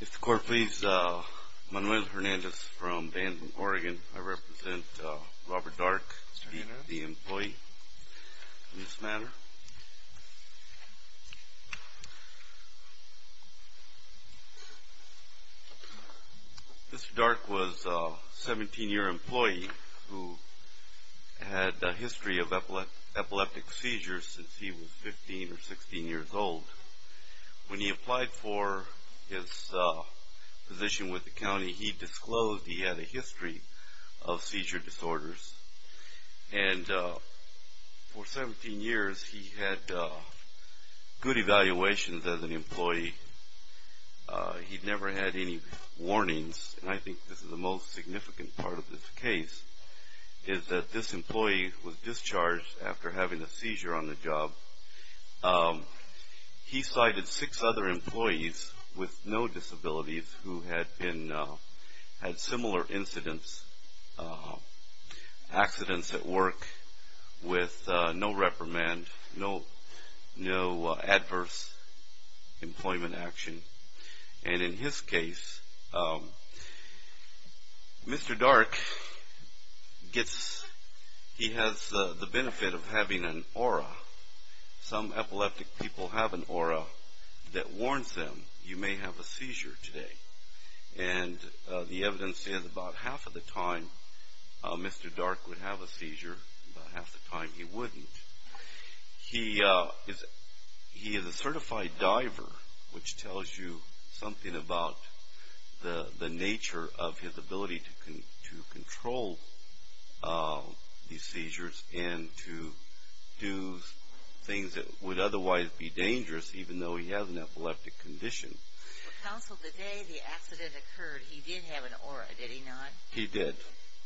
Mr. Court, please. Manuel Hernandez from Danville, Oregon. I represent Robert Dark, the employee in this matter. Mr. Dark was a 17-year employee who had a history of epileptic seizures since he was 15 or 16 years old. When he applied for his position with the county, he disclosed he had a history of seizure disorders. And for 17 years, he had good evaluations as an employee. He never had any warnings. And I think this is the most significant part of the job. He cited six other employees with no disabilities who had similar incidents, accidents at work with no reprimand, no adverse employment action. And in his case, Mr. Dark gets, he has the benefit of having an aura. Some epileptic people have an aura that warns them, you may have a seizure today. And the evidence is about half of the time Mr. Dark would have a seizure, about half the time he wouldn't. He is a certified diver, which controls these seizures and to do things that would otherwise be dangerous even though he has an epileptic condition. Counsel, the day the accident occurred, he did have an aura, did he not? He did.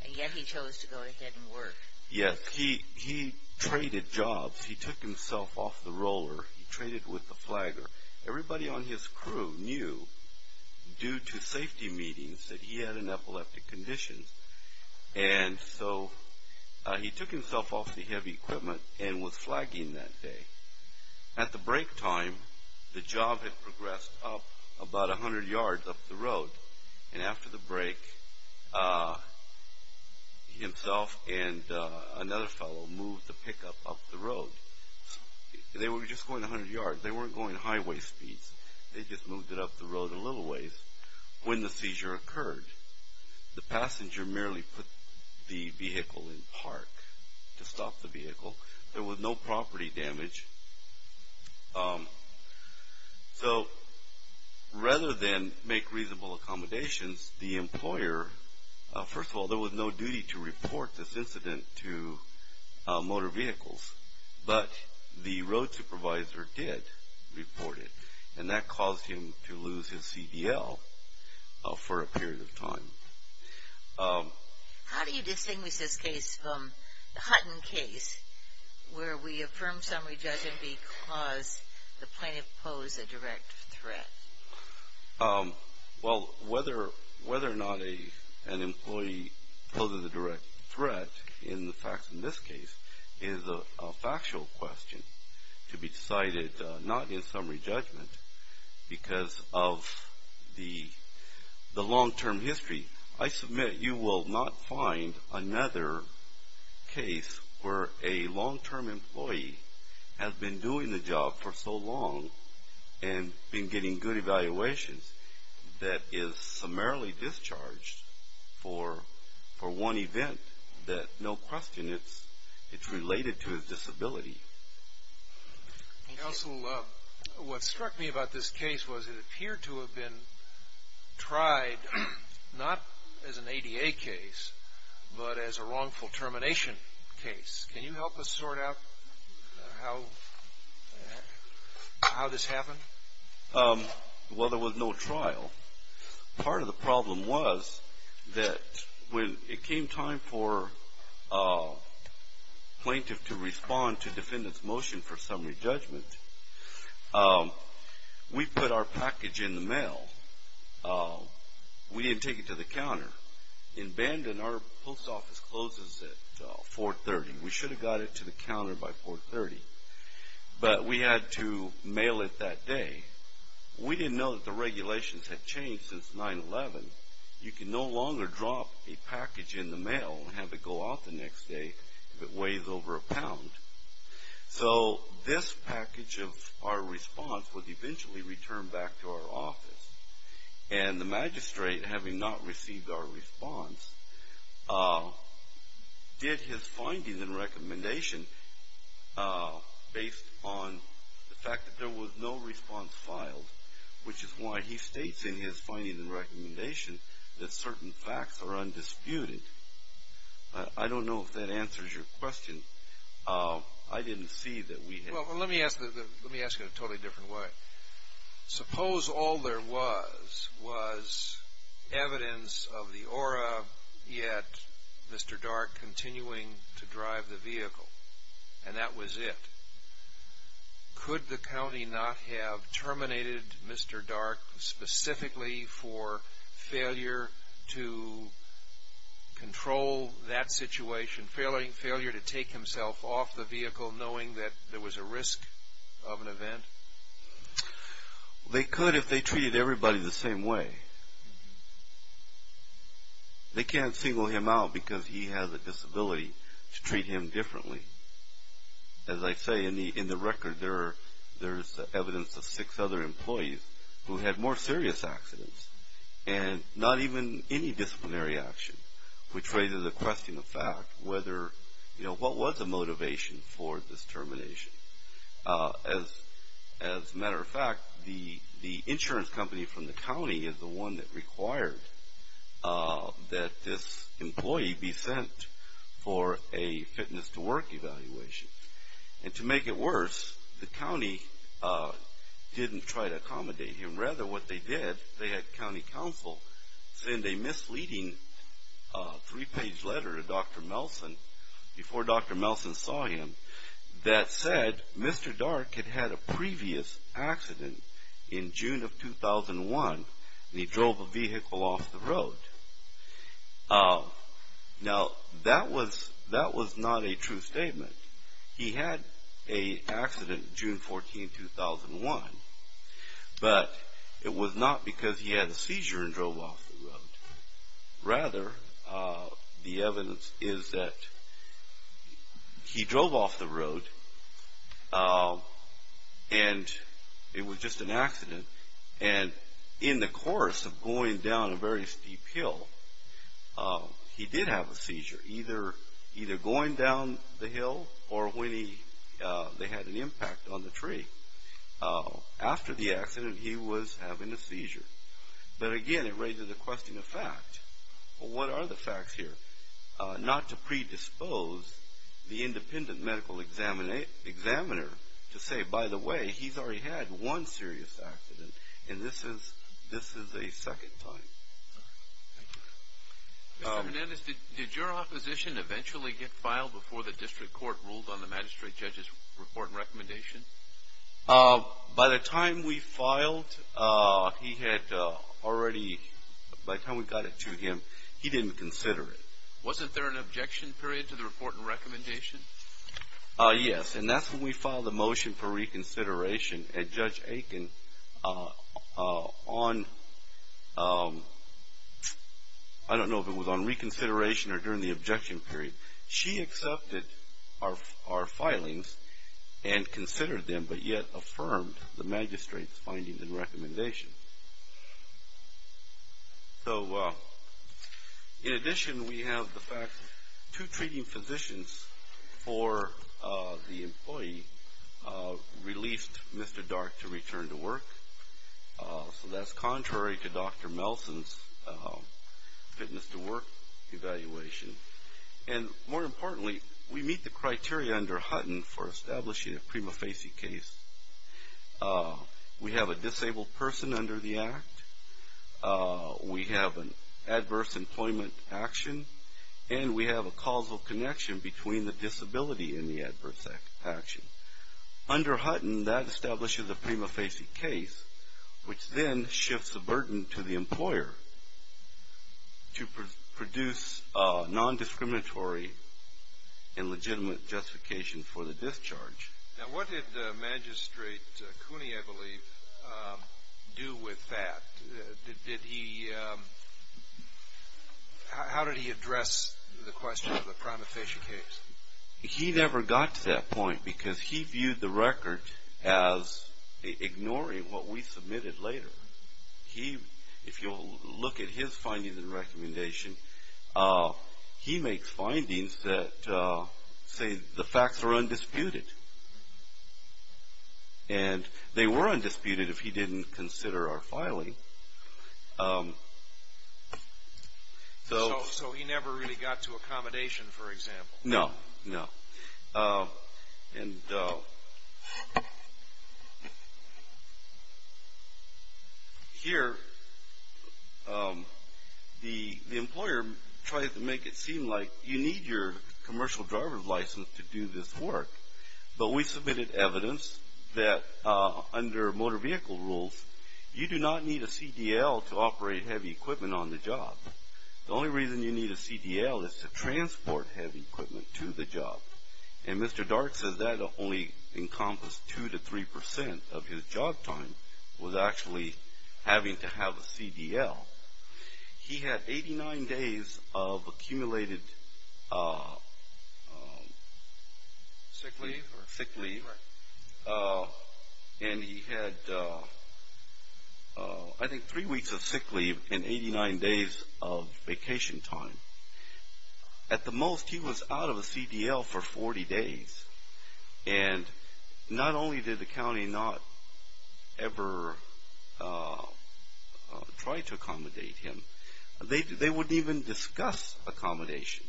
And yet he chose to go ahead and work. Yes. He traded jobs. He took himself off the roller. He traded with the flagger. Everybody on his crew knew due to safety meetings that he had an epileptic condition. And so he took himself off the heavy equipment and was flagging that day. At the break time, the job had progressed up about 100 yards up the road. And after the break, himself and another fellow moved the pickup up the road. They were just going 100 yards. They weren't going highway speeds. They just moved it up the road a little ways. When the seizure occurred, the passenger merely put the vehicle in park to stop the vehicle. There was no property damage. So rather than make reasonable accommodations, the employer, first of all, there was no duty to report this incident to motor vehicles. But the road supervisor did report it. And that caused him to lose his CDL for a period of time. How do you distinguish this case from the Hutton case where we affirm summary judgment because the plaintiff posed a direct threat? Well, whether or not an employee poses a direct threat in the facts in this case is a factual question to be decided not in summary judgment because of the long-term history. I submit you will not find another case where a long-term employee has been doing the job for so long and been getting good evaluations that is summarily discharged for one event that no question it's related to his disability. Counsel, what struck me about this case was it appeared to have been tried not as an ADA case but as a wrongful termination case. Can you help us sort out how this happened? Well, there was no trial. Part of the problem was that when it came time for plaintiff to respond to defendant's motion for summary judgment, we put our package in the mail. We didn't take it to the counter. In Bandon, our post office closes at 430. We should have got it to the counter by 430. But we had to mail it that day. We didn't know that the regulations had changed since 9-11. You can no longer drop a package in the mail and have it go out the next day if it weighs over a pound. So this package of our response would eventually return back to our office. And the magistrate, having not received our response, did his findings and recommendation based on the fact that there was no response filed, which is why he states in his findings and recommendation that certain facts are undisputed. I don't know if that answers your question. I didn't see that we had... Well, let me ask it in a totally different way. Suppose all there was was evidence of the aura yet Mr. Dark continuing to drive the vehicle, and that was it. Could the county not have terminated Mr. Dark specifically for failure to control that situation, failure to take himself off the vehicle knowing that there was a risk of an event? They could if they treated everybody the same way. They can't single him out because he has a disability to treat him differently. As I say, in the record there's evidence of six other employees who had more serious accidents and not even any disciplinary action, which was a motivation for this termination. As a matter of fact, the insurance company from the county is the one that required that this employee be sent for a fitness to work evaluation. And to make it worse, the county didn't try to accommodate him. Rather, what they did, they had county council send a misleading three-page letter to Dr. Melson before Dr. Melson saw him that said Mr. Dark had had a previous accident in June of 2001 and he drove the vehicle off the road. Now, that was not a true statement. He had an accident June 14, 2001. But it was not because he had a seizure and drove off the road. Rather, the evidence is that he drove off the road and it was just an accident. And in the course of going down a very steep hill, he did have a seizure either going down the hill or when they had an impact on the tree. After the accident, he was having a seizure. But again, it raises the question of fact. What are the facts here? Not to predispose the independent medical examiner to say, by the way, he's already had one serious accident and this is a second time. Thank you. Mr. Hernandez, did your opposition eventually get filed before the district court ruled on the magistrate judge's report and recommendation? By the time we filed, he had already, by the time we got it to him, he didn't consider it. Yes. And that's when we filed the motion for reconsideration at Judge Aiken on, I don't know if it was on reconsideration or during the objection period. She accepted our filings and considered them, but yet affirmed the magistrate's findings and recommendations. So in addition, we have the fact that two treating physicians for the employee released Mr. Dark to return to work. So that's contrary to Dr. Melson's fitness to work evaluation. And more importantly, we meet the criteria under Hutton for establishing a prima facie case. We have a disabled person under the act. We have an adverse employment action. And we have a causal connection between the disability and the adverse action. Under Hutton, that establishes a prima facie case, which then shifts the burden to the employer to produce non-discriminatory and legitimate justification for the discharge. Now, what did Magistrate Cooney, I believe, do with that? How did he address the question of the prima facie case? He never got to that point because he viewed the record as ignoring what we submitted later. If you'll look at his findings and recommendation, he makes findings that say the facts are undisputed. And they were undisputed if he didn't consider our filing. So he never really got to accommodation, for example? No, no. And here, the employer tried to make it seem like you need your commercial driver's license to do this work. But we submitted evidence that under motor vehicle rules, you do not need a CDL to operate heavy equipment on the job. The only reason you need a CDL is to transport heavy equipment to the job. And Mr. Dart says that only encompassed 2 to 3% of his job time was actually having to have a CDL. He had 89 days of accumulated sick leave. And he had, I think, 3 weeks of sick leave and 89 days of vacation time. At the most, he was out of a CDL for 40 days. And not only did the county not ever try to accommodate him, they wouldn't even discuss accommodation.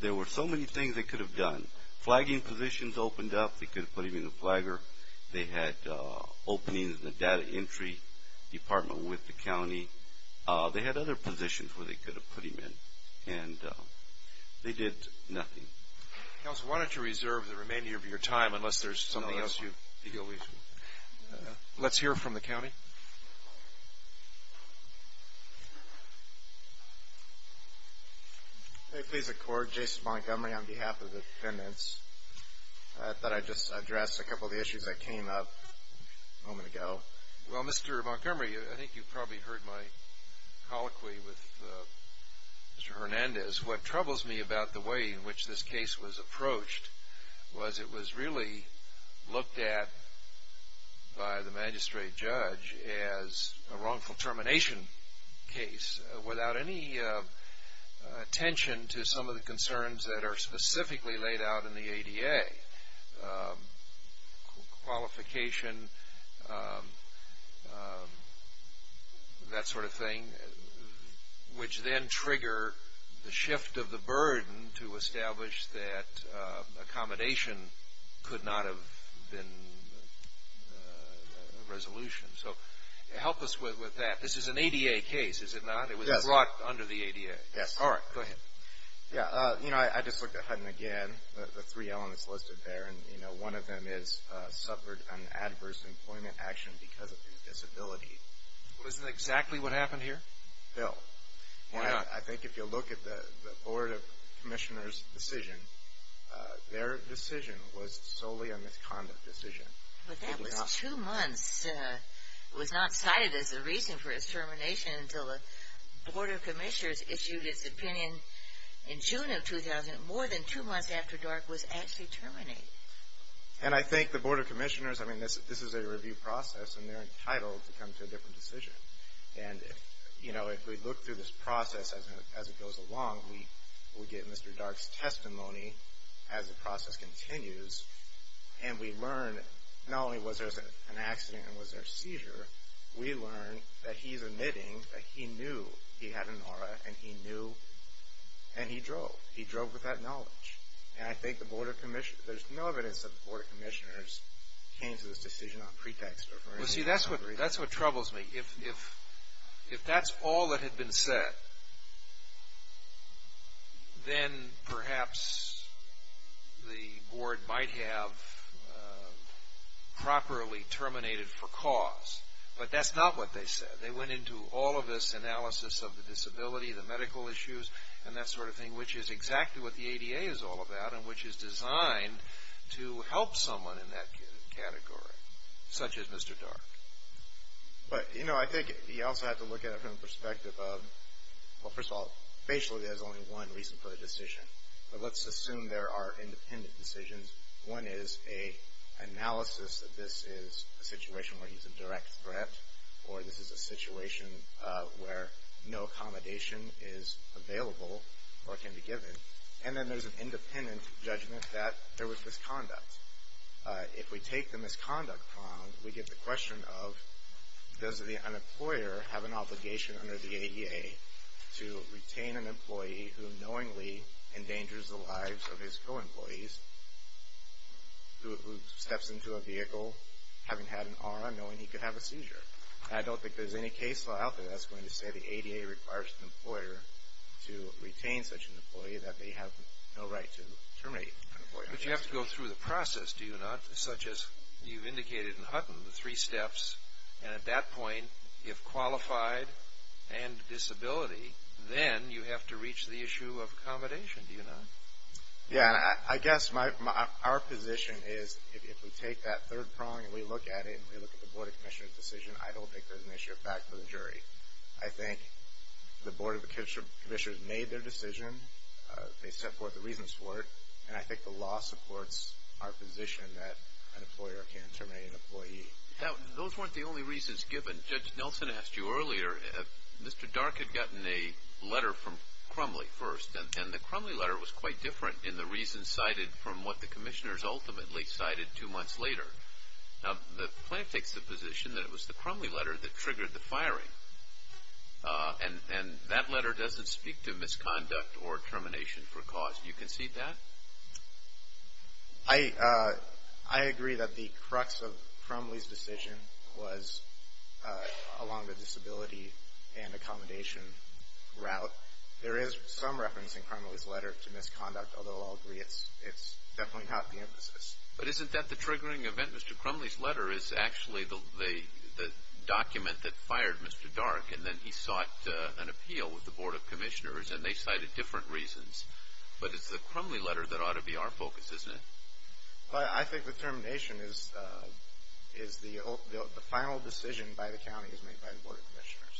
There were so many things they could have done. Flagging positions opened up. They could have put him in the flagger. They had openings in the data entry department with the county. They had other positions where they could have put him in. And they did nothing. Counsel, why don't you reserve the remainder of your time, unless there's something else you... Let's hear from the county. May it please the court, Jason Montgomery on behalf of the defendants. I thought I'd just address a couple of the issues that came up a moment ago. Well, Mr. Montgomery, I think you probably heard my colloquy with Mr. Hernandez. What troubles me about the way in which this case was approached was it was really looked at by the magistrate judge as a wrongful termination case without any attention to some of the concerns that are specifically laid out in the ADA. Qualification, that sort of thing, which then trigger the shift of the burden to establish that accommodation could not have been a resolution. So help us with that. This is an ADA case, is it not? Yes. It was brought under the ADA. Yes. All right. Go ahead. I just looked at Hutton again, the three elements listed there, and one of them is suffered an adverse employment action because of his disability. Isn't that exactly what happened here? No. Why not? I think if you look at the board of commissioners' decision, their decision was solely a misconduct decision. But that was two months. It was not cited as a reason for his termination until the board of commissioners issued its opinion in June of 2000, more than two months after Dark was actually terminated. And I think the board of commissioners, I mean, this is a review process, and they're entitled to come to a different decision. And, you know, if we look through this process as it goes along, we get Mr. Dark's testimony as the process continues, and we learn not only was there an accident and was there a seizure, we learn that he's admitting that he knew he had an aura, and he knew, and he drove. He drove with that knowledge. And I think the board of commissioners, there's no evidence that the board of commissioners came to this decision on pretext. Well, see, that's what troubles me. If that's all that had been said, then perhaps the board might have properly terminated for cause. But that's not what they said. They went into all of this analysis of the disability, the medical issues, and that sort of thing, which is exactly what But, you know, I think you also have to look at it from the perspective of, well, first of all, basically there's only one reason for the decision. But let's assume there are independent decisions. One is an analysis that this is a situation where he's a direct threat, or this is a situation where no accommodation is available or can be given. And then there's an independent judgment that there was misconduct. If we take the misconduct wrong, we get the question of, does an employer have an obligation under the ADA to retain an employee who knowingly endangers the lives of his co-employees, who steps into a vehicle having had an aura, knowing he could have a seizure? I don't think there's any case law out there that's going to say the ADA requires an employer to retain such an employee that they have no right to terminate an employee. But you have to go through the process, do you not? Such as you've indicated in Hutton, the three steps. And at that point, if qualified and disability, then you have to reach the issue of accommodation, do you not? Yeah. I guess our position is if we take that third prong and we look at it and we look at the Board of Commissioners' decision, I don't think there's an issue of fact for the jury. I think the Board of Commissioners made their decision. They set forth the reasons for it. And I think the law supports our position that an employer can't terminate an employee. Now, those weren't the only reasons given. Judge Nelson asked you earlier if Mr. Dark had gotten a letter from Crumley first. And the Crumley letter was quite different in the reasons cited from what the commissioners ultimately cited two months later. Now, the plaintiff takes the position that it was the Crumley letter that triggered the firing. And that letter doesn't speak to misconduct or termination for cause. Do you concede that? I agree that the crux of Crumley's decision was along the disability and accommodation route. There is some reference in Crumley's letter to misconduct, although I'll agree it's definitely not the emphasis. But isn't that the triggering event? Mr. Crumley's letter is actually the document that fired Mr. Dark. And then he sought an appeal with the Board of Commissioners, and they cited different reasons. But it's the Crumley letter that ought to be our focus, isn't it? Well, I think the termination is the final decision by the county is made by the Board of Commissioners.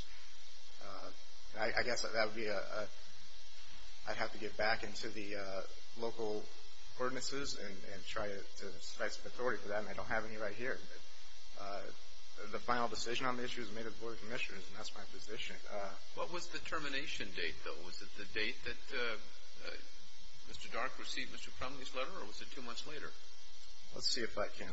I guess that would be a – I'd have to get back into the local ordinances and try to specify the authority for that, and I don't have any right here. But the final decision on the issue is made by the Board of Commissioners, and that's my position. What was the termination date, though? Was it the date that Mr. Dark received Mr. Crumley's letter, or was it two months later? Let's see if I can.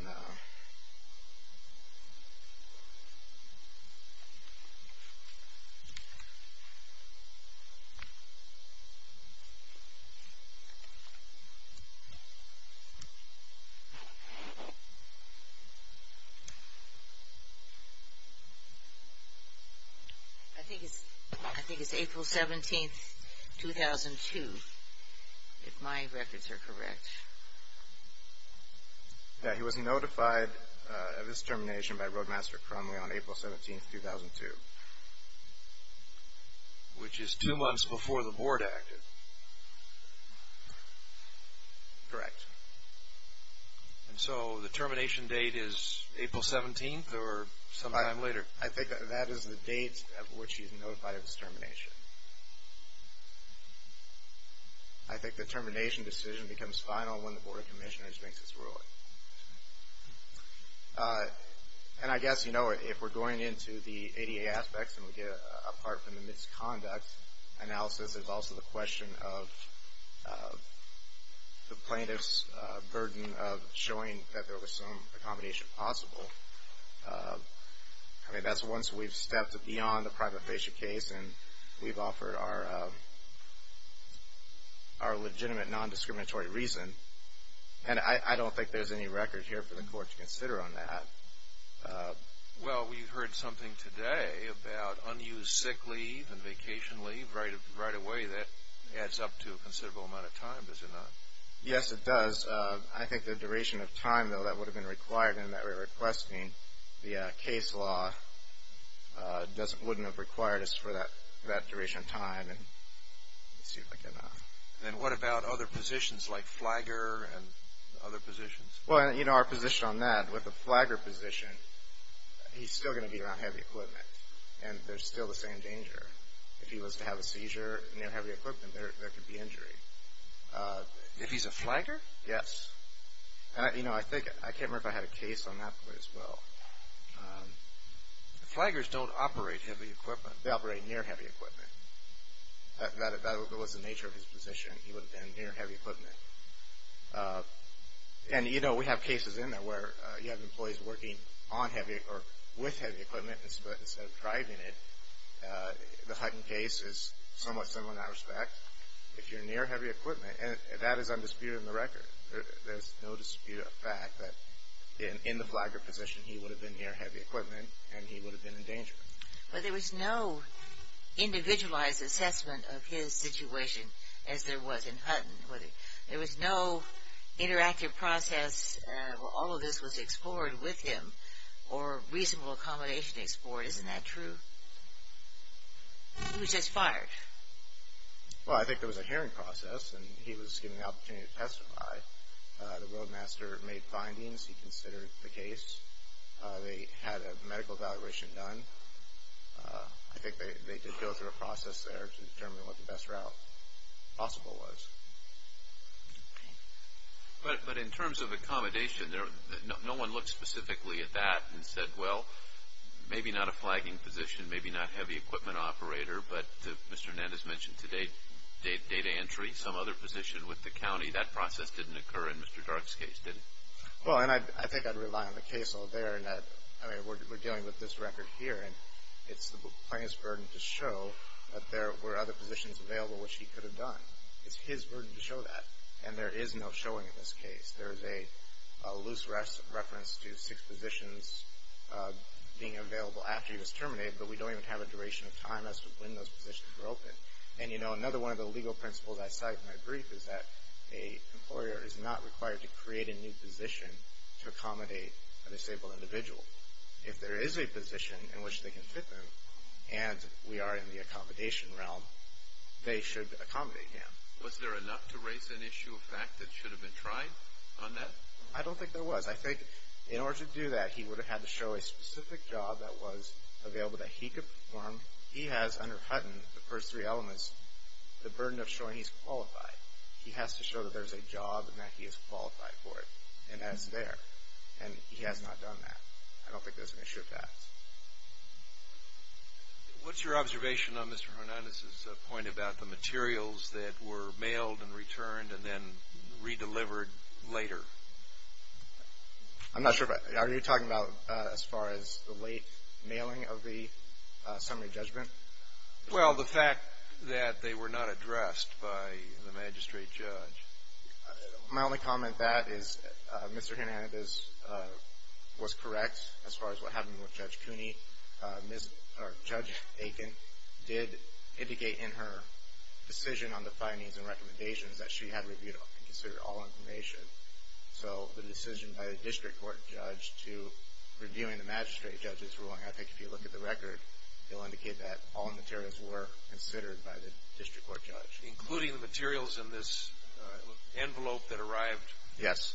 I think it's April 17, 2002, if my records are correct. Yeah, he was notified of his termination by Roadmaster Crumley on April 17, 2002. Which is two months before the Board acted. Correct. And so the termination date is April 17 or sometime later? I think that is the date at which he's notified of his termination. I think the termination decision becomes final when the Board of Commissioners makes its ruling. And I guess, you know, if we're going into the ADA aspects and we get apart from the misconduct analysis, there's also the question of the plaintiff's burden of showing that there was some accommodation possible. I mean, that's once we've stepped beyond the private fascia case and we've offered our legitimate non-discriminatory reason. And I don't think there's any record here for the Court to consider on that. Well, we heard something today about unused sick leave and vacation leave. Right away, that adds up to a considerable amount of time, does it not? Yes, it does. I think the duration of time, though, that would have been required in that we were requesting the case law wouldn't have required us for that duration of time. Then what about other positions like flagger and other positions? Well, you know, our position on that, with the flagger position, he's still going to be around heavy equipment. And there's still the same danger. If he was to have a seizure near heavy equipment, there could be injury. If he's a flagger? Yes. And, you know, I can't remember if I had a case on that as well. Flaggers don't operate heavy equipment. They operate near heavy equipment. That was the nature of his position. He would have been near heavy equipment. And, you know, we have cases in there where you have employees working with heavy equipment instead of driving it. The Hutton case is somewhat similar in that respect. If you're near heavy equipment, that is undisputed in the record. There's no dispute of fact that in the flagger position he would have been near heavy equipment and he would have been in danger. But there was no individualized assessment of his situation as there was in Hutton. There was no interactive process where all of this was explored with him or reasonable accommodation explored. Isn't that true? He was just fired. Well, I think there was a hearing process and he was given the opportunity to testify. The roadmaster made findings. He considered the case. They had a medical evaluation done. I think they did go through a process there to determine what the best route possible was. But in terms of accommodation, no one looked specifically at that and said, well, maybe not a flagging position, maybe not heavy equipment operator, but Mr. Nett has mentioned today data entry, some other position with the county. That process didn't occur in Mr. Dark's case, did it? Well, and I think I'd rely on the case over there in that we're dealing with this record here and it's the plaintiff's burden to show that there were other positions available which he could have done. It's his burden to show that. And there is no showing in this case. There is a loose reference to six positions being available after he was terminated, but we don't even have a duration of time as to when those positions were open. And, you know, another one of the legal principles I cite in my brief is that an employer is not required to create a new position to accommodate a disabled individual. If there is a position in which they can fit them and we are in the accommodation realm, they should accommodate him. Was there enough to raise an issue of fact that should have been tried on that? I don't think there was. I think in order to do that, he would have had to show a specific job that was available that he could perform. He has, under Hutton, the first three elements, the burden of showing he's qualified. He has to show that there's a job and that he is qualified for it, and that's there. And he has not done that. I don't think there's an issue of that. What's your observation on Mr. Hernandez's point about the materials that were mailed and returned and then redelivered later? I'm not sure. Are you talking about as far as the late mailing of the summary judgment? Well, the fact that they were not addressed by the magistrate judge. My only comment to that is Mr. Hernandez was correct as far as what happened with Judge Cooney. Judge Aiken did indicate in her decision on the findings and recommendations that she had reviewed and considered all information. So the decision by the district court judge to reviewing the magistrate judge's ruling, I think if you look at the record, it will indicate that all materials were considered by the district court judge. Including the materials in this envelope that arrived later. Yes.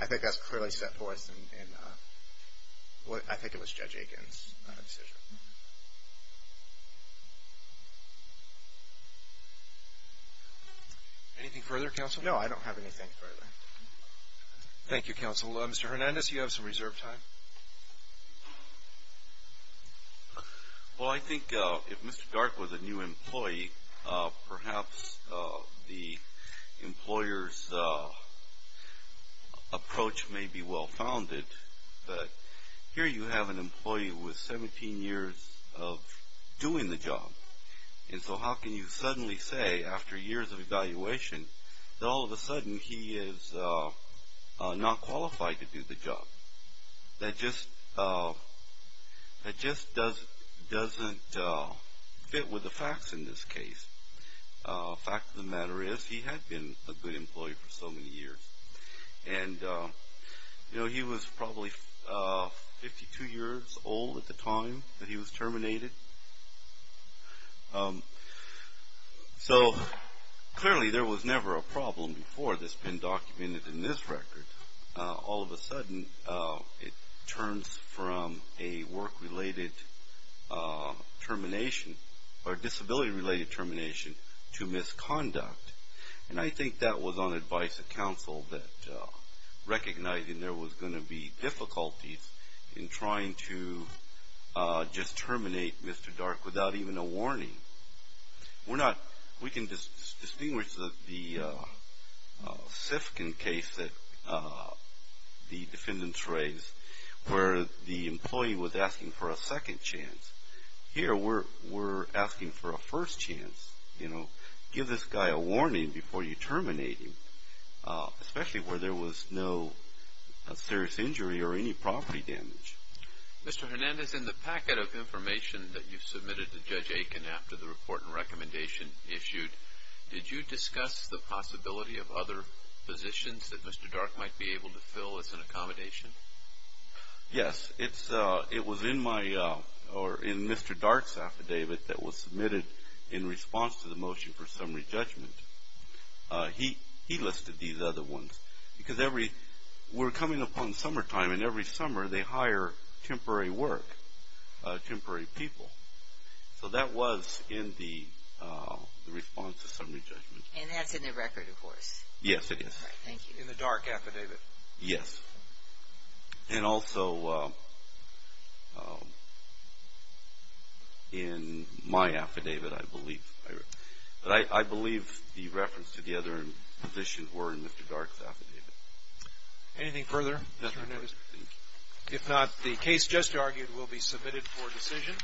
I think that's clearly set forth in what I think it was Judge Aiken's decision. Anything further, counsel? No, I don't have anything further. Thank you, counsel. Mr. Hernandez, you have some reserved time. Well, I think if Mr. Dark was a new employee, perhaps the employer's approach may be well-founded. But here you have an employee with 17 years of doing the job. And so how can you suddenly say after years of evaluation that all of a sudden he is not qualified to do the job? That just doesn't fit with the facts in this case. The fact of the matter is he had been a good employee for so many years. And, you know, he was probably 52 years old at the time that he was terminated. So clearly there was never a problem before that's been documented in this record. All of a sudden it turns from a work-related termination or disability-related termination to misconduct. And I think that was on advice of counsel that recognizing there was going to be difficulties in trying to just terminate Mr. Dark without even a warning. We can distinguish the Sifkin case that the defendants raised where the employee was asking for a second chance. Here we're asking for a first chance. You know, give this guy a warning before you terminate him, especially where there was no serious injury or any property damage. Mr. Hernandez, in the packet of information that you submitted to Judge Aiken after the report and recommendation issued, did you discuss the possibility of other positions that Mr. Dark might be able to fill as an accommodation? Yes. It was in Mr. Dark's affidavit that was submitted in response to the motion for summary judgment. He listed these other ones because we're coming upon summertime, and every summer they hire temporary work, temporary people. So that was in the response to summary judgment. And that's in the record, of course? Yes, it is. In the Dark affidavit? Yes. And also in my affidavit, I believe. But I believe the reference to the other positions were in Mr. Dark's affidavit. Anything further, Mr. Hernandez? No, sir. Thank you. If not, the case just argued will be submitted for decision.